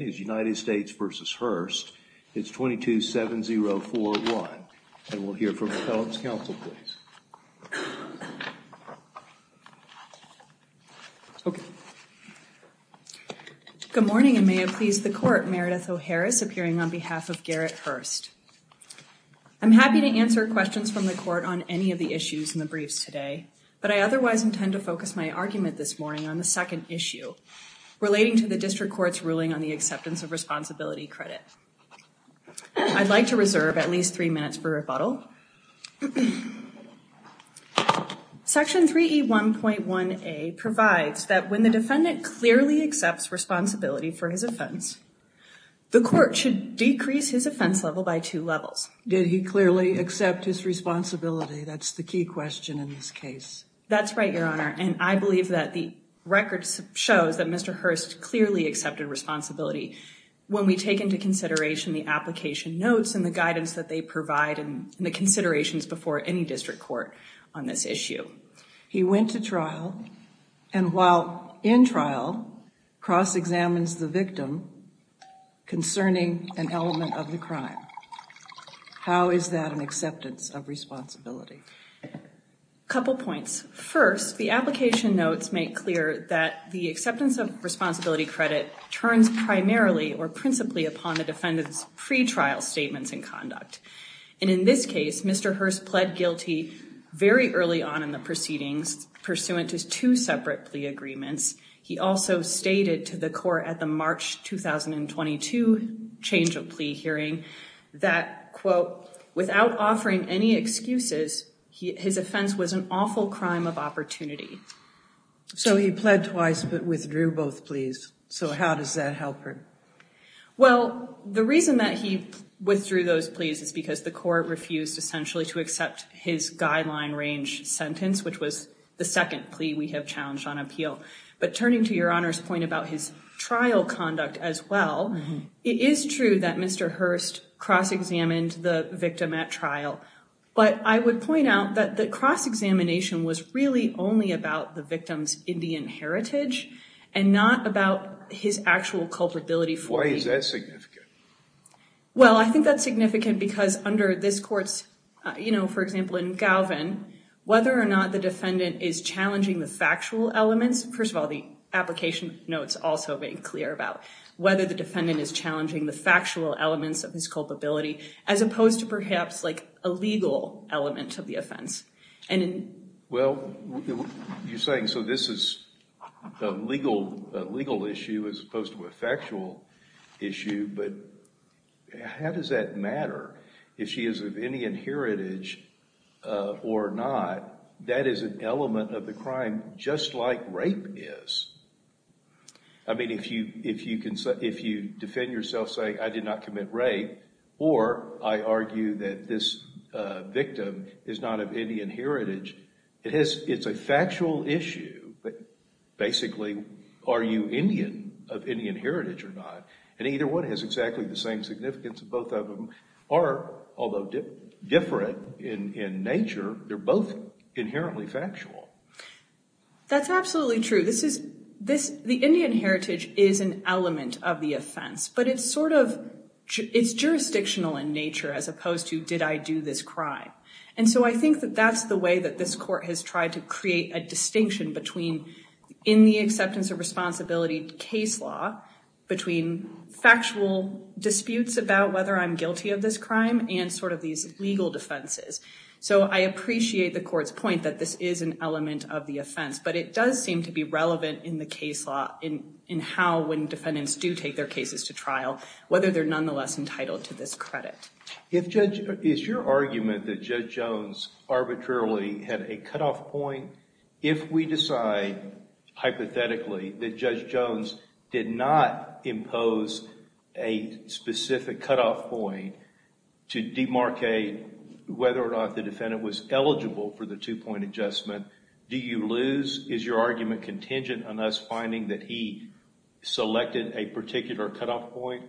is 227041. And we'll hear from the felon's counsel, please. Good morning and may it please the court, Meredith O'Harris appearing on behalf of Garrett Hurst. I'm happy to answer questions from the court on any of the issues in the briefs today, but I otherwise intend to focus my argument this morning on the second issue to the district court's ruling on the acceptance of responsibility credit. I'd like to reserve at least three minutes for rebuttal. Section 3E1.1A provides that when the defendant clearly accepts responsibility for his offense, the court should decrease his offense level by two levels. Did he clearly accept his responsibility? That's the key question in this case. That's right, Your Honor. And I believe that the records shows that Mr. Hurst clearly accepted responsibility. When we take into consideration the application notes and the guidance that they provide and the considerations before any district court on this issue. He went to trial and while in trial, cross-examines the victim concerning an element of the crime. How is that an acceptance of responsibility? A couple points. First, the application notes make clear that the acceptance of responsibility credit turns primarily or principally upon the defendant's pretrial statements in conduct. And in this case, Mr. Hurst pled guilty very early on in the proceedings pursuant to two separate plea agreements. He also stated to the court at the March 2022 change of plea hearing that, quote, without offering any excuses, his offense was an awful crime of opportunity. So he pled twice but withdrew both pleas. So how does that help him? Well, the reason that he withdrew those pleas is because the court refused essentially to accept his guideline range sentence, which was the second plea we have challenged on appeal. But turning to Your Honor's point about his trial conduct as well, it is true that Mr. Hurst cross-examined the victim at trial. But I would point out that the cross-examination was really only about the victim's Indian heritage and not about his actual culpability for the... Why is that significant? Well, I think that's significant because under this court's, you know, for example, in Galvin, whether or not the defendant is challenging the factual elements, first of all, the application notes also being clear about whether the defendant is challenging the factual elements of his culpability as opposed to perhaps like a legal element of the offense. Well, you're saying so this is a legal issue as opposed to a factual issue. But how does that matter? If she is of Indian heritage or not, that is an element of the crime just like rape is. I mean, if you defend yourself saying, I did not commit rape, or I argue that this victim is not of Indian heritage, it's a factual issue. But basically, are you Indian of Indian heritage or not? And either one has exactly the same significance. Both of them are, although different in nature, they're both inherently factual. That's absolutely true. The Indian heritage is an element of the offense, but it's sort of, it's jurisdictional in nature as opposed to did I do this crime? And so I think that that's the way that this court has tried to create a distinction between in the acceptance of responsibility case law, between factual disputes about whether I'm guilty of this crime and sort of these legal defenses. So I appreciate the court's point that this is an element of the offense, but it does seem to be relevant in the case law in how when defendants do take their cases to trial, whether they're nonetheless entitled to this credit. If Judge, is your argument that Judge Jones arbitrarily had a cutoff point? If we decide hypothetically that Judge Jones did not impose a specific cutoff point to demarcate whether or not the defendant was eligible for the two point adjustment, do you lose? Is your argument contingent on us finding that he selected a particular cutoff point?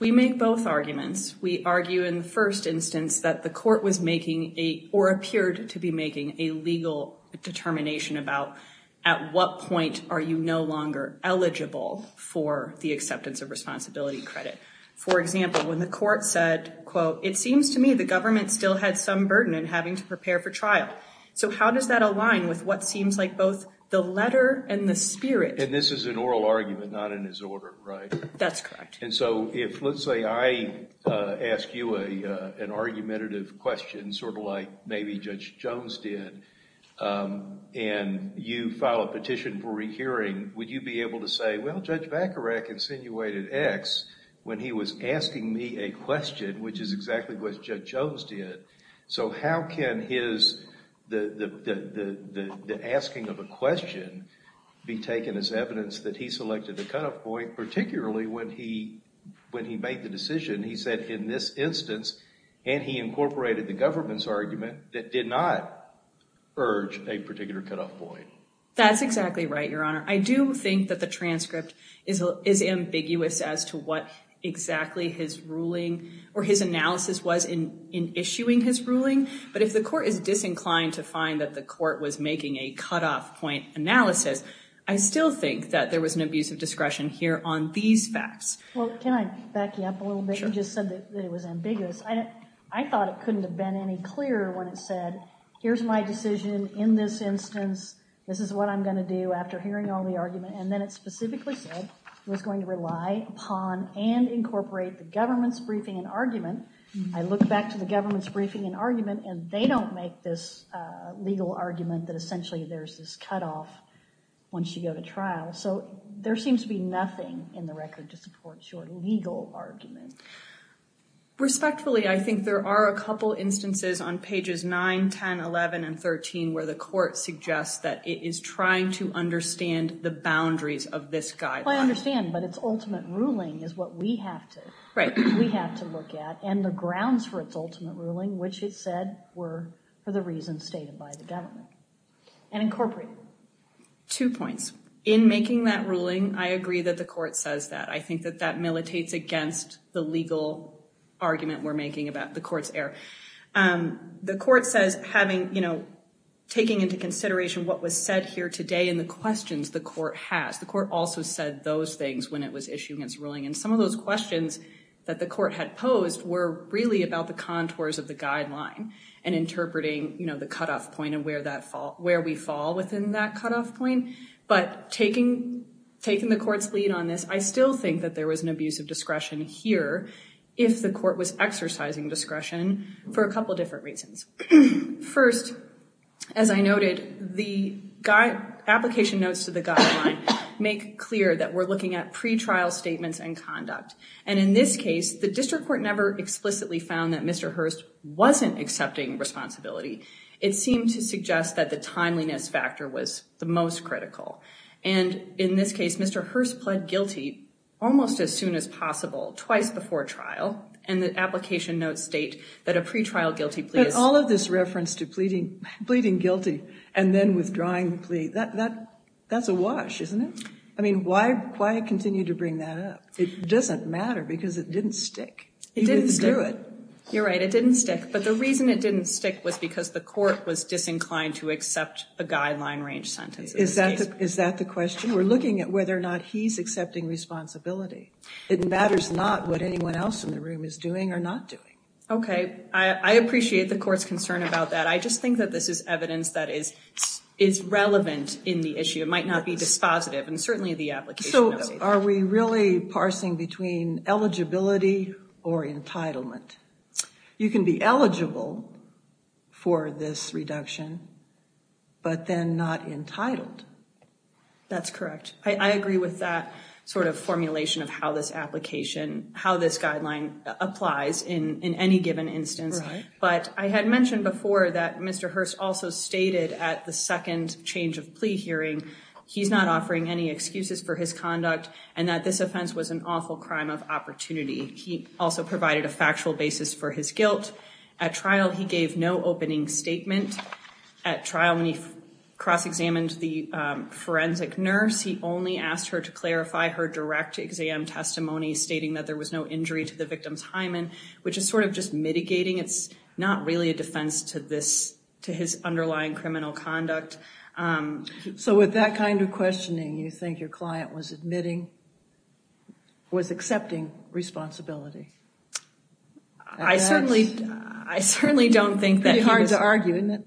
We make both arguments. We argue in the first instance that the court was making a, or appeared to be making a legal determination about at what point are you no longer eligible for the acceptance of responsibility credit? For example, when the court said, quote, it seems to me the government still had some burden in having to prepare for trial. So how does that align with what seems like both the letter and the spirit? And this is an oral argument, not in his order, right? That's correct. And so if, let's say, I ask you an argumentative question, sort of like maybe Judge Jones did, and you file a petition for rehearing, would you be able to say, well, Judge Vacarek insinuated X when he was asking me a question, which is exactly what Judge Jones did. So how can his, the asking of a question be taken as evidence that he selected a cutoff point, particularly when he made the decision, he said in this instance, and he incorporated the government's argument, that did not urge a particular cutoff point. That's exactly right, Your Honor. I do think that the transcript is ambiguous as to what exactly his ruling or his analysis was in issuing his ruling. But if the court is disinclined to find that the court was making a cutoff point analysis, I still think that there was an abuse of discretion here on these facts. Well, can I back you up a little bit? You just said that it was ambiguous. I thought it couldn't have been any clearer when it said, here's my decision in this instance, this is what I'm going to do after hearing all the argument. And then it specifically said it was going to rely upon and incorporate the government's briefing and argument. I look back to the government's briefing and argument, and they don't make this legal argument that essentially there's this cutoff once you go to trial. So there seems to be nothing in the record to support your legal argument. Respectfully, I think there are a couple instances on pages 9, 10, 11, and 13 where the court suggests that it is trying to understand the boundaries of this guideline. I understand, but its ultimate ruling is what we have to look at, and the grounds for its ultimate ruling, which it said were for the reasons stated by the government, and incorporated. Two points. In making that ruling, I agree that the court says that. I think that that is the legal argument we're making about the court's error. The court says, taking into consideration what was said here today and the questions the court has, the court also said those things when it was issuing its ruling. And some of those questions that the court had posed were really about the contours of the guideline and interpreting the cutoff point and where we fall within that cutoff point. But taking the court's lead on this, I still think that there was an abuse of discretion here if the court was exercising discretion for a couple different reasons. First, as I noted, the application notes to the guideline make clear that we're looking at pretrial statements and conduct. And in this case, the district court never explicitly found that Mr. Hurst wasn't accepting responsibility. It seemed to suggest that the timeliness factor was the most critical. And in this case, Mr. Hurst pled guilty almost as soon as possible, twice before trial, and the application notes state that a pretrial guilty plea is... But all of this reference to pleading guilty and then withdrawing the plea, that's a wash, isn't it? I mean, why continue to bring that up? It doesn't matter because it didn't stick. It didn't stick. You're right, it didn't stick. But the reason it didn't stick was because the court was disinclined to accept a guideline-range sentence. Is that the question? We're looking at whether or not he's accepting responsibility. It matters not what anyone else in the room is doing or not doing. Okay. I appreciate the court's concern about that. I just think that this is evidence that is relevant in the issue. It might not be dispositive, and certainly the application notes say that. So are we really parsing between eligibility or entitlement? You can be eligible for this but you can't be entitled. That's correct. I agree with that sort of formulation of how this application, how this guideline applies in any given instance. But I had mentioned before that Mr. Hurst also stated at the second change of plea hearing, he's not offering any excuses for his conduct and that this offense was an awful crime of opportunity. He also provided a factual basis for his guilt. At trial, he gave no opening statement. At the forensic nurse, he only asked her to clarify her direct exam testimony stating that there was no injury to the victim's hymen, which is sort of just mitigating. It's not really a defense to this, to his underlying criminal conduct. So with that kind of questioning, you think your client was admitting, was accepting responsibility? I certainly don't think that he was. It's pretty hard to argue, isn't it?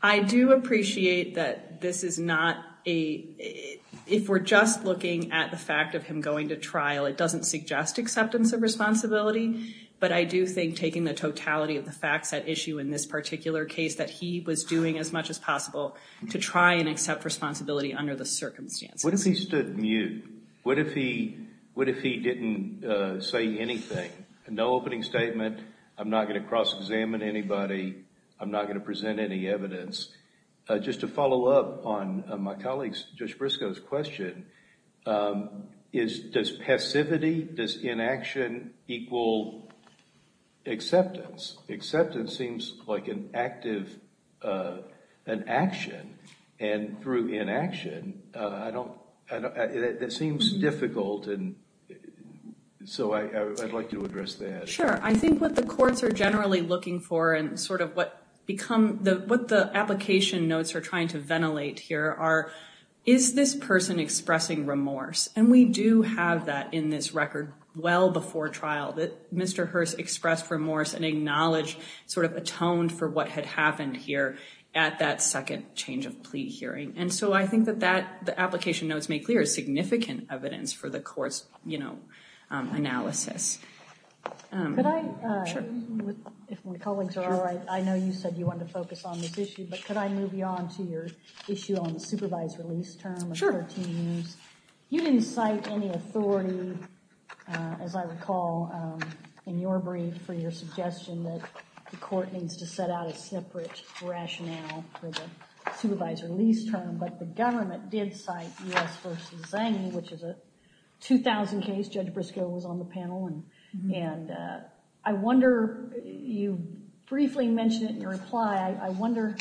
I do appreciate that this is not a, if we're just looking at the fact of him going to trial, it doesn't suggest acceptance of responsibility. But I do think taking the totality of the facts at issue in this particular case, that he was doing as much as possible to try and accept responsibility under the circumstances. What if he stood mute? What if he didn't say anything? No opening statement, I'm not going to cross-examine anybody, I'm not going to present any evidence. Just to follow up on my colleague Judge Briscoe's question, is does passivity, does inaction equal acceptance? Acceptance seems like an active, an action and through inaction, I don't, that seems difficult and so I'd like to address that. Sure, I think what the courts are generally looking for and sort of what become, what the application notes are trying to ventilate here are, is this person expressing remorse? And we do have that in this record well before trial, that Mr. Hurst expressed remorse and And so I think that that, the application notes make clear significant evidence for the courts, you know, analysis. Could I, if my colleagues are alright, I know you said you wanted to focus on this issue, but could I move you on to your issue on the supervised release term of 13 years? You didn't cite any authority, as I recall, in your brief for your suggestion that the but the government did cite U.S. v. Zange, which is a 2000 case, Judge Briscoe was on the panel and I wonder, you briefly mentioned it in your reply, I wonder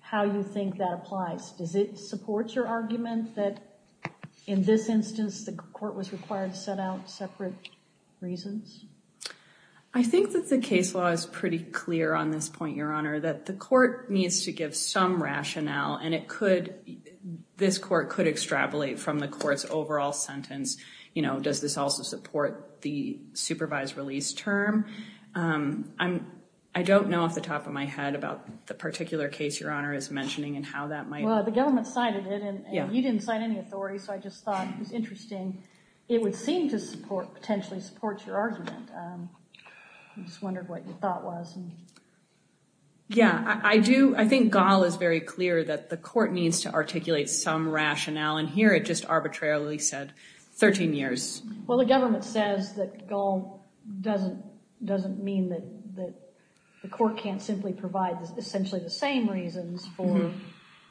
how you think that applies. Does it support your argument that in this instance the court was required to set out separate reasons? I think that the case law is pretty clear on this point, Your Honor, that the court needs to give some rationale and it could, this court could extrapolate from the court's overall sentence, you know, does this also support the supervised release term? I'm, I don't know off the top of my head about the particular case Your Honor is mentioning and how that might... Well, the government cited it and you didn't cite any authority, so I just thought it was interesting. It would seem to support, potentially support your argument. I just wondered what your thought was. Yeah, I do, I think Gall is very clear that the court needs to articulate some rationale and here it just arbitrarily said 13 years. Well, the government says that Gall doesn't, doesn't mean that, that the court can't simply provide essentially the same reasons for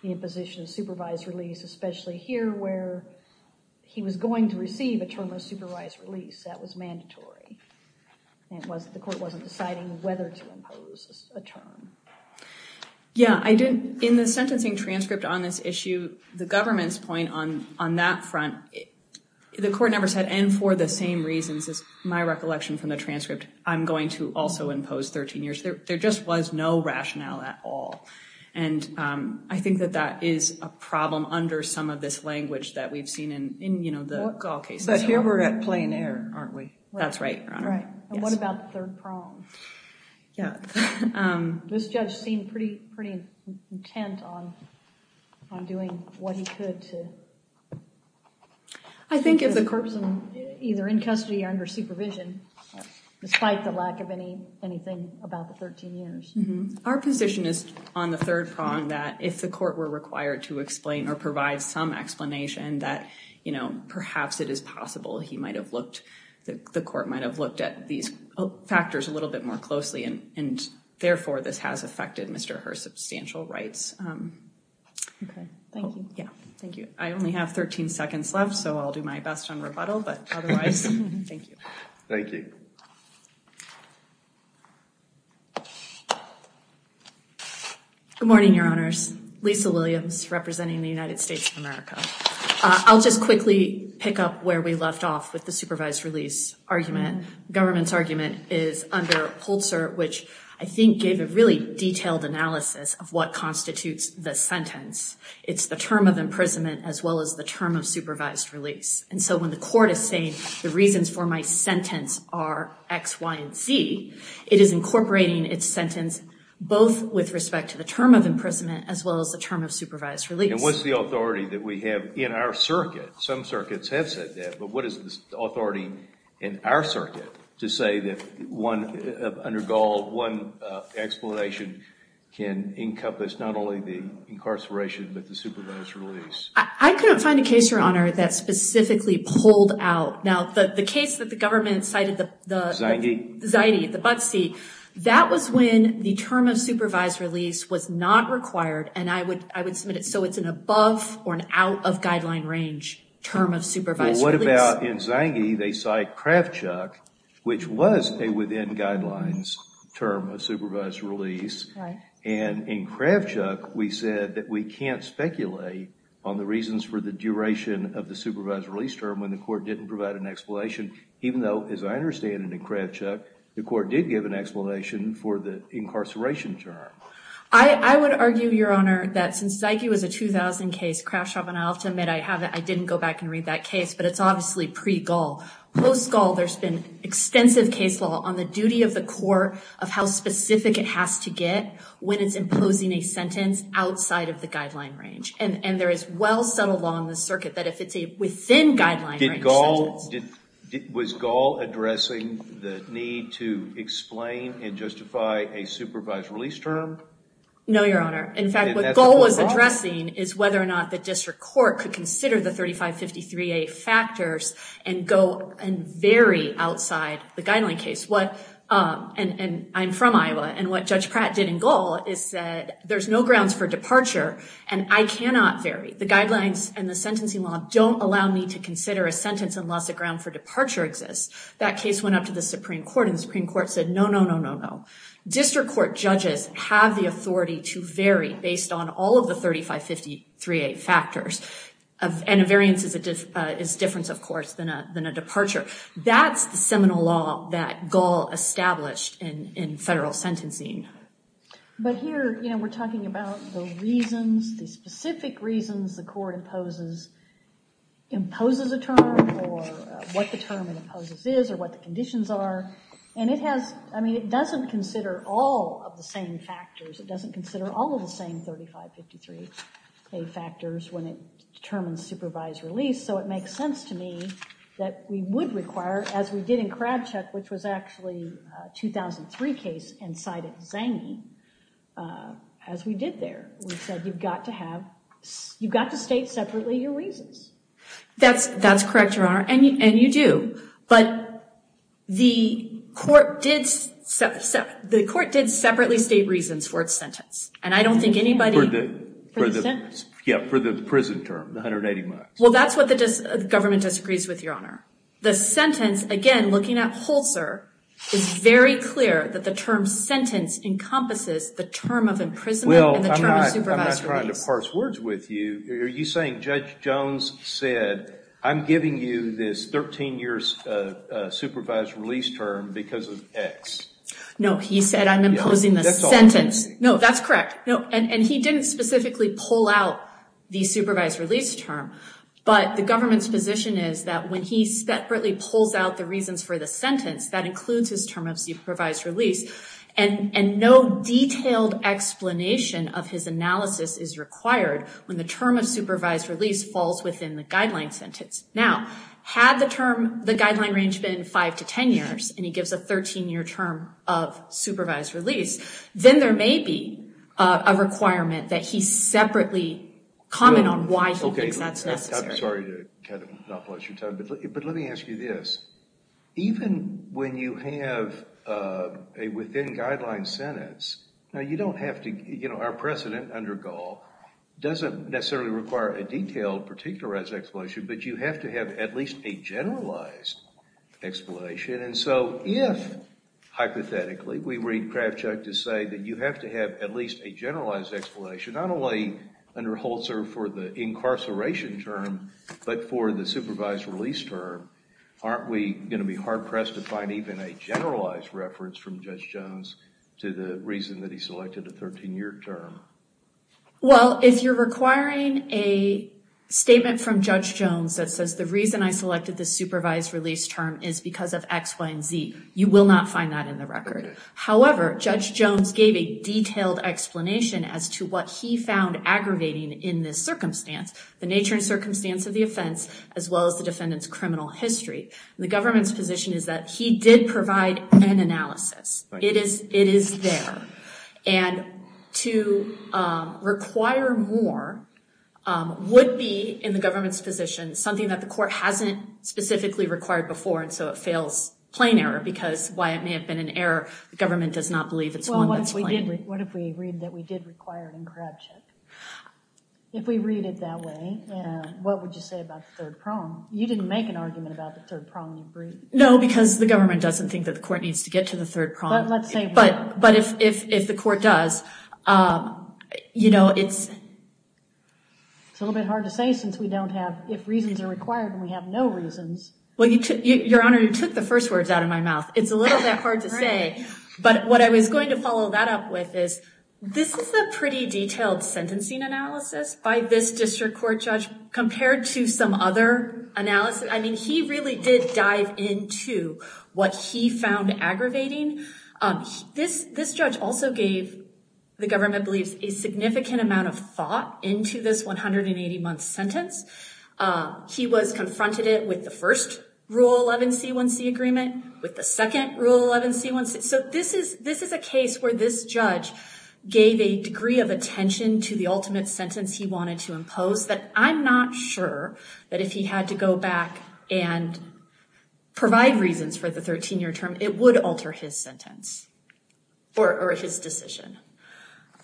the imposition of supervised release, especially here where he was going to receive a term of supervised release. That was mandatory. It was, the court wasn't deciding whether to impose a term. Yeah, I didn't, in the sentencing transcript on this issue, the government's point on, on that front, the court never said, and for the same reasons, as my recollection from the transcript, I'm going to also impose 13 years. There, there just was no rationale at all. And I think that that is a problem under some of this language that we've seen in, in, you know, the Gall case. But here we're at plain error, aren't we? That's right, Your Honor. And what about the third prong? Yeah. This judge seemed pretty, pretty intent on, on doing what he could to... I think if the court... Either in custody or under supervision, despite the lack of any, anything about the 13 years. Our position is on the third prong that if the court were required to explain or provide some explanation that, you know, perhaps it is possible he might have looked, the court might have looked at these factors a little bit more closely and, and therefore this has affected Mr. Hearst's substantial rights. Okay. Thank you. Yeah. Thank you. I only have 13 seconds left, so I'll do my best on rebuttal, but otherwise, thank you. Thank you. Good morning, Your Honors. Lisa Williams representing the United States of America. I'll just quickly pick up where we left off with the supervised release argument. Government's argument is under Holzer, which I think gave a really detailed analysis of what constitutes the sentence. It's the term of imprisonment as well as the term of supervised release. And so when the court is saying the reasons for my sentence are X, Y, and Z, it is incorporating its sentence both with respect to the term of imprisonment as well as the term of supervised release. And what's the authority that we have in our circuit? Some circuits have said that, but what is the authority in our circuit to say that one, under Gaul, one explanation can encompass not only the incarceration but the supervised release? I couldn't find a case, Your Honor, that specifically pulled out. Now, the case that the government cited the... Zange? Zange, the Buttsy. That was when the term of supervised release was not required, and I would submit it so it's an above or an out of guideline range term of supervised release. Well, what about in Zange, they cite Kravchuk, which was a within guidelines term of supervised release. And in Kravchuk, we said that we can't speculate on the reasons for the duration of the supervised release term when the court didn't provide an explanation, even though, as I understand it in Kravchuk, the court did give an explanation for the incarceration term. I would argue, Your Honor, that since Zange was a 2000 case, Kravchuk, and I'll have to admit I didn't go back and read that case, but it's obviously pre-Gaul. Post-Gaul, there's been extensive case law on the duty of the court of how specific it has to get when it's imposing a sentence outside of the guideline range. And there is well-settled law in the circuit that if it's a within guideline range sentence. Was Gaul addressing the need to explain and justify a supervised release term? No, Your Honor. In fact, what Gaul was addressing is whether or not the district court could consider the 3553A factors and go and vary outside the guideline case. And I'm from Iowa, and what Judge Pratt did in Gaul is said there's no grounds for departure, and I cannot vary. The guidelines and the sentencing law don't allow me to consider a sentence unless a ground for departure exists. That case went up to the Supreme Court, and the Supreme Court said no, no, no, no, no. District court judges have the authority to vary based on all of the 3553A factors. And a variance is a difference, of course, than a departure. That's the seminal law that Gaul established in federal sentencing. But here, you know, we're talking about the reasons, the specific reasons the court imposes a term or what the term it imposes is or what the conditions are. And it has, I mean, it doesn't consider all of the same factors. It doesn't consider all of the same 3553A factors when it determines supervised release. So it makes sense to me that we would require, as we did in Kravchuk, which was actually a 2003 case and cited Zange as we did there, we said you've got to have, you've got to state separately your reasons. That's correct, Your Honor, and you do. But the court did separately state reasons for its sentence, and I don't think anybody For the sentence? Yeah, for the prison term, the 180 miles. Well, that's what the government disagrees with, Your Honor. The sentence, again, looking at Holzer, is very clear that the term sentence encompasses the term of imprisonment and the term of supervised release. Well, I'm not trying to parse words with you. Are you saying Judge Jones said, I'm giving you this 13 years supervised release term because of X? No, he said I'm imposing the sentence. That's all I'm saying. No, that's correct. And he didn't specifically pull out the supervised release term. But the government's position is that when he separately pulls out the reasons for the sentence, that includes his term of supervised release, and no detailed explanation of his analysis is required when the term of supervised release falls within the guideline sentence. Now, had the term, the guideline range been 5 to 10 years, and he gives a 13-year term of supervised release, then there may be a requirement that he separately comment on why he thinks that's necessary. OK, I'm sorry to kind of not blast your time, but let me ask you this. Even when you have a within-guideline sentence, now you don't have to, you know, our precedent under Gall doesn't necessarily require a detailed particularized explanation, but you have to have at least a generalized explanation. And so if, hypothetically, we read Kravchuk to say that you have to have at least a generalized explanation, not only under Holzer for the incarceration term, but for the supervised release term, aren't we going to be hard-pressed to find even a generalized reference from Judge Jones to the reason that he selected a 13-year term? Well, if you're requiring a statement from Judge Jones that says the reason I selected the supervised release term is because of X, Y, and Z, you will not find that in the record. However, Judge Jones gave a detailed explanation as to what he found aggravating in this circumstance, the nature and circumstance of the offense, as well as the defendant's criminal history. The government's position is that he did provide an analysis. It is there. And to require more would be, in the government's position, something that the court hasn't specifically required before, and so it fails plain error because, while it may have been an error, the government does not believe it's one that's plain. Well, what if we read that we did require it in Kravchuk? If we read it that way, what would you say about the third prong? You didn't make an argument about the third prong in your brief. No, because the government doesn't think that the court needs to get to the third prong. But let's say what? But if the court does, you know, it's— It's a little bit hard to say since we don't have—if reasons are required and we have no reasons. Well, Your Honor, you took the first words out of my mouth. It's a little bit hard to say, but what I was going to follow that up with is, this is a pretty detailed sentencing analysis by this district court judge compared to some other analysis. I mean, he really did dive into what he found aggravating. This judge also gave, the government believes, a significant amount of thought into this 180-month sentence. He was confronted with the first Rule 11 C1c agreement, with the second Rule 11 C1c. So this is a case where this judge gave a degree of attention to the ultimate sentence he wanted to impose that I'm not sure that if he had to go back and provide reasons for the 13-year term, it would alter his sentence or his decision.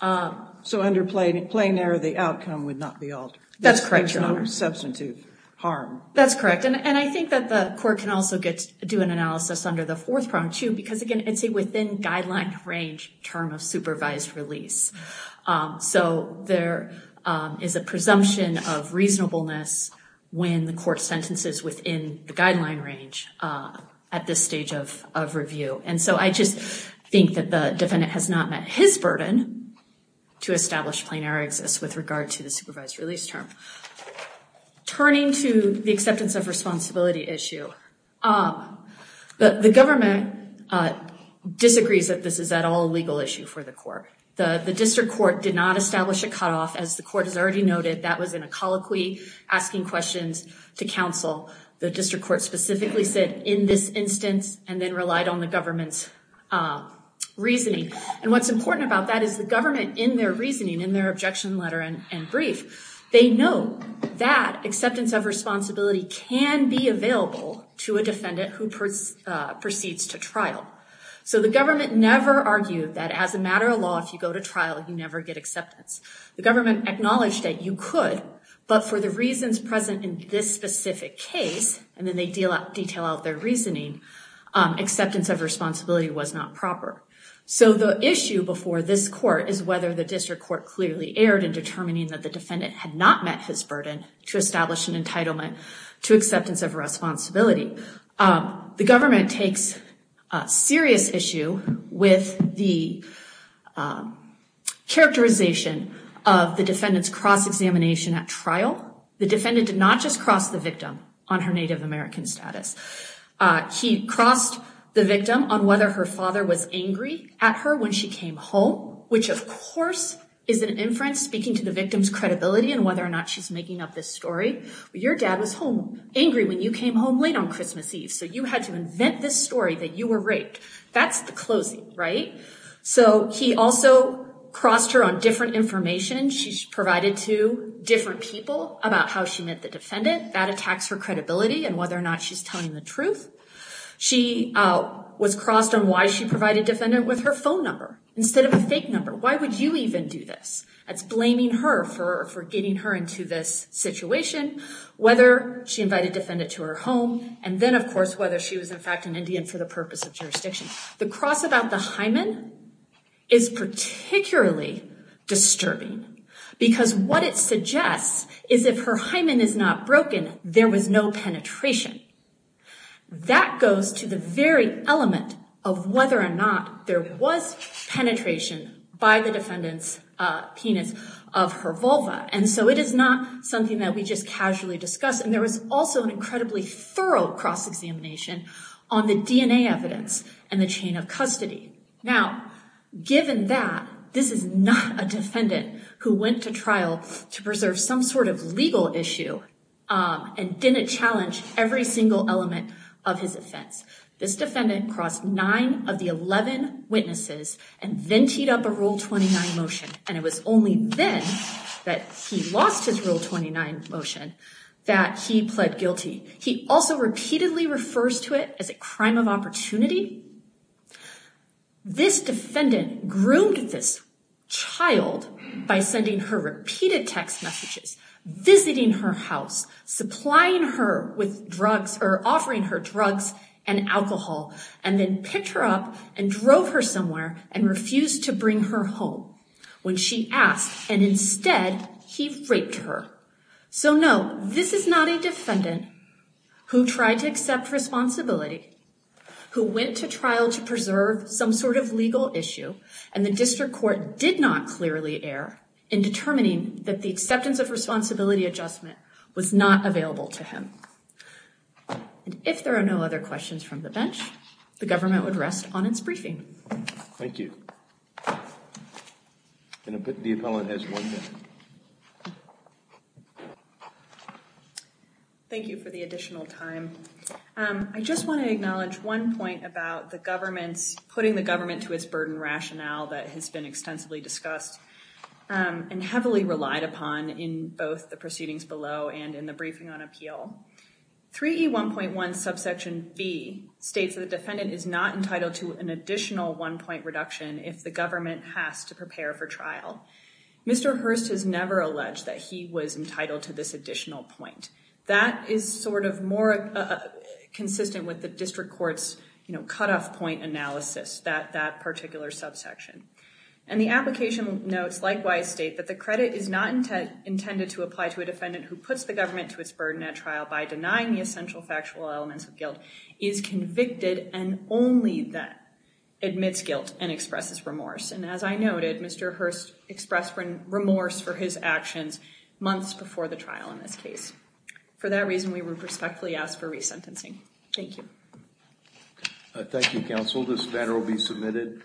So under plain error, the outcome would not be altered? That's correct, Your Honor. Substantive harm. That's correct. And I think that the court can also do an analysis under the fourth problem, too, because, again, it's a within-guideline-range term of supervised release. So there is a presumption of reasonableness when the court sentences within the guideline range at this stage of review. And so I just think that the defendant has not met his burden to establish plain error exists with regard to the supervised release term. Turning to the acceptance of responsibility issue, the government disagrees that this is at all a legal issue for the court. The district court did not establish a cutoff. As the court has already noted, that was in a colloquy asking questions to counsel. The district court specifically said, in this instance, and then relied on the government's reasoning. And what's important about that is the government, in their reasoning, in their objection letter and brief, they know that acceptance of responsibility can be available to a defendant who proceeds to trial. So the government never argued that as a matter of law, if you go to trial, you never get acceptance. The government acknowledged that you could, but for the reasons present in this specific case, and then they detail out their reasoning, acceptance of responsibility was not proper. So the issue before this court is whether the district court clearly erred in determining that the defendant had not met his burden to establish an entitlement to acceptance of responsibility. The government takes serious issue with the characterization of the defendant's cross-examination at trial. The defendant did not just cross the victim on her Native American status. He crossed the victim on whether her father was angry at her when she came home, which of course is an inference speaking to the victim's credibility and whether or not she's making up this story. Your dad was angry when you came home late on Christmas Eve, so you had to invent this story that you were raped. That's the closing, right? So he also crossed her on different information she provided to different people about how she met the defendant. That attacks her credibility and whether or not she's telling the truth. She was crossed on why she provided defendant with her phone number instead of a fake number. Why would you even do this? That's blaming her for getting her into this situation, whether she invited defendant to her home, and then of course whether she was in fact an Indian for the purpose of jurisdiction. The cross about the hymen is particularly disturbing because what it suggests is if her hymen is not broken, there was no penetration. That goes to the very element of whether or not there was penetration by the defendant's penis of her vulva. And so it is not something that we just casually discuss. And there was also an incredibly thorough cross-examination on the DNA evidence and the chain of custody. Now, given that this is not a defendant who went to trial to preserve some sort of legal issue and didn't challenge every single element of his offense. This defendant crossed nine of the 11 witnesses and then teed up a Rule 29 motion. And it was only then that he lost his Rule 29 motion that he pled guilty. He also repeatedly refers to it as a crime of opportunity. This defendant groomed this child by sending her repeated text messages, visiting her house, supplying her with drugs or offering her drugs and alcohol, and then picked her up and drove her somewhere and refused to bring her home when she asked. And instead, he raped her. So no, this is not a defendant who tried to accept responsibility, who went to trial to preserve some sort of legal issue, and the district court did not clearly err in determining that the acceptance of responsibility adjustment was not available to him. And if there are no other questions from the bench, the government would rest on its briefing. Thank you. I'm going to put the appellant at one minute. Thank you for the additional time. I just want to acknowledge one point about the government's putting the government to its burden rationale that has been extensively discussed and heavily relied upon in both the proceedings below and in the briefing on appeal. 3E1.1 subsection B states that the defendant is not entitled to an additional one-point reduction if the government has to prepare for trial. Mr. Hurst has never alleged that he was entitled to this additional point. That is sort of more consistent with the district court's cutoff point analysis, that particular subsection. And the application notes likewise state that the credit is not intended to apply to a defendant who puts the government to its burden at trial by denying the essential factual elements of guilt, is convicted, and only then admits guilt and expresses remorse. And as I noted, Mr. Hurst expressed remorse for his actions months before the trial in this case. For that reason, we respectfully ask for resentencing. Thank you. Thank you, counsel. This matter will be submitted.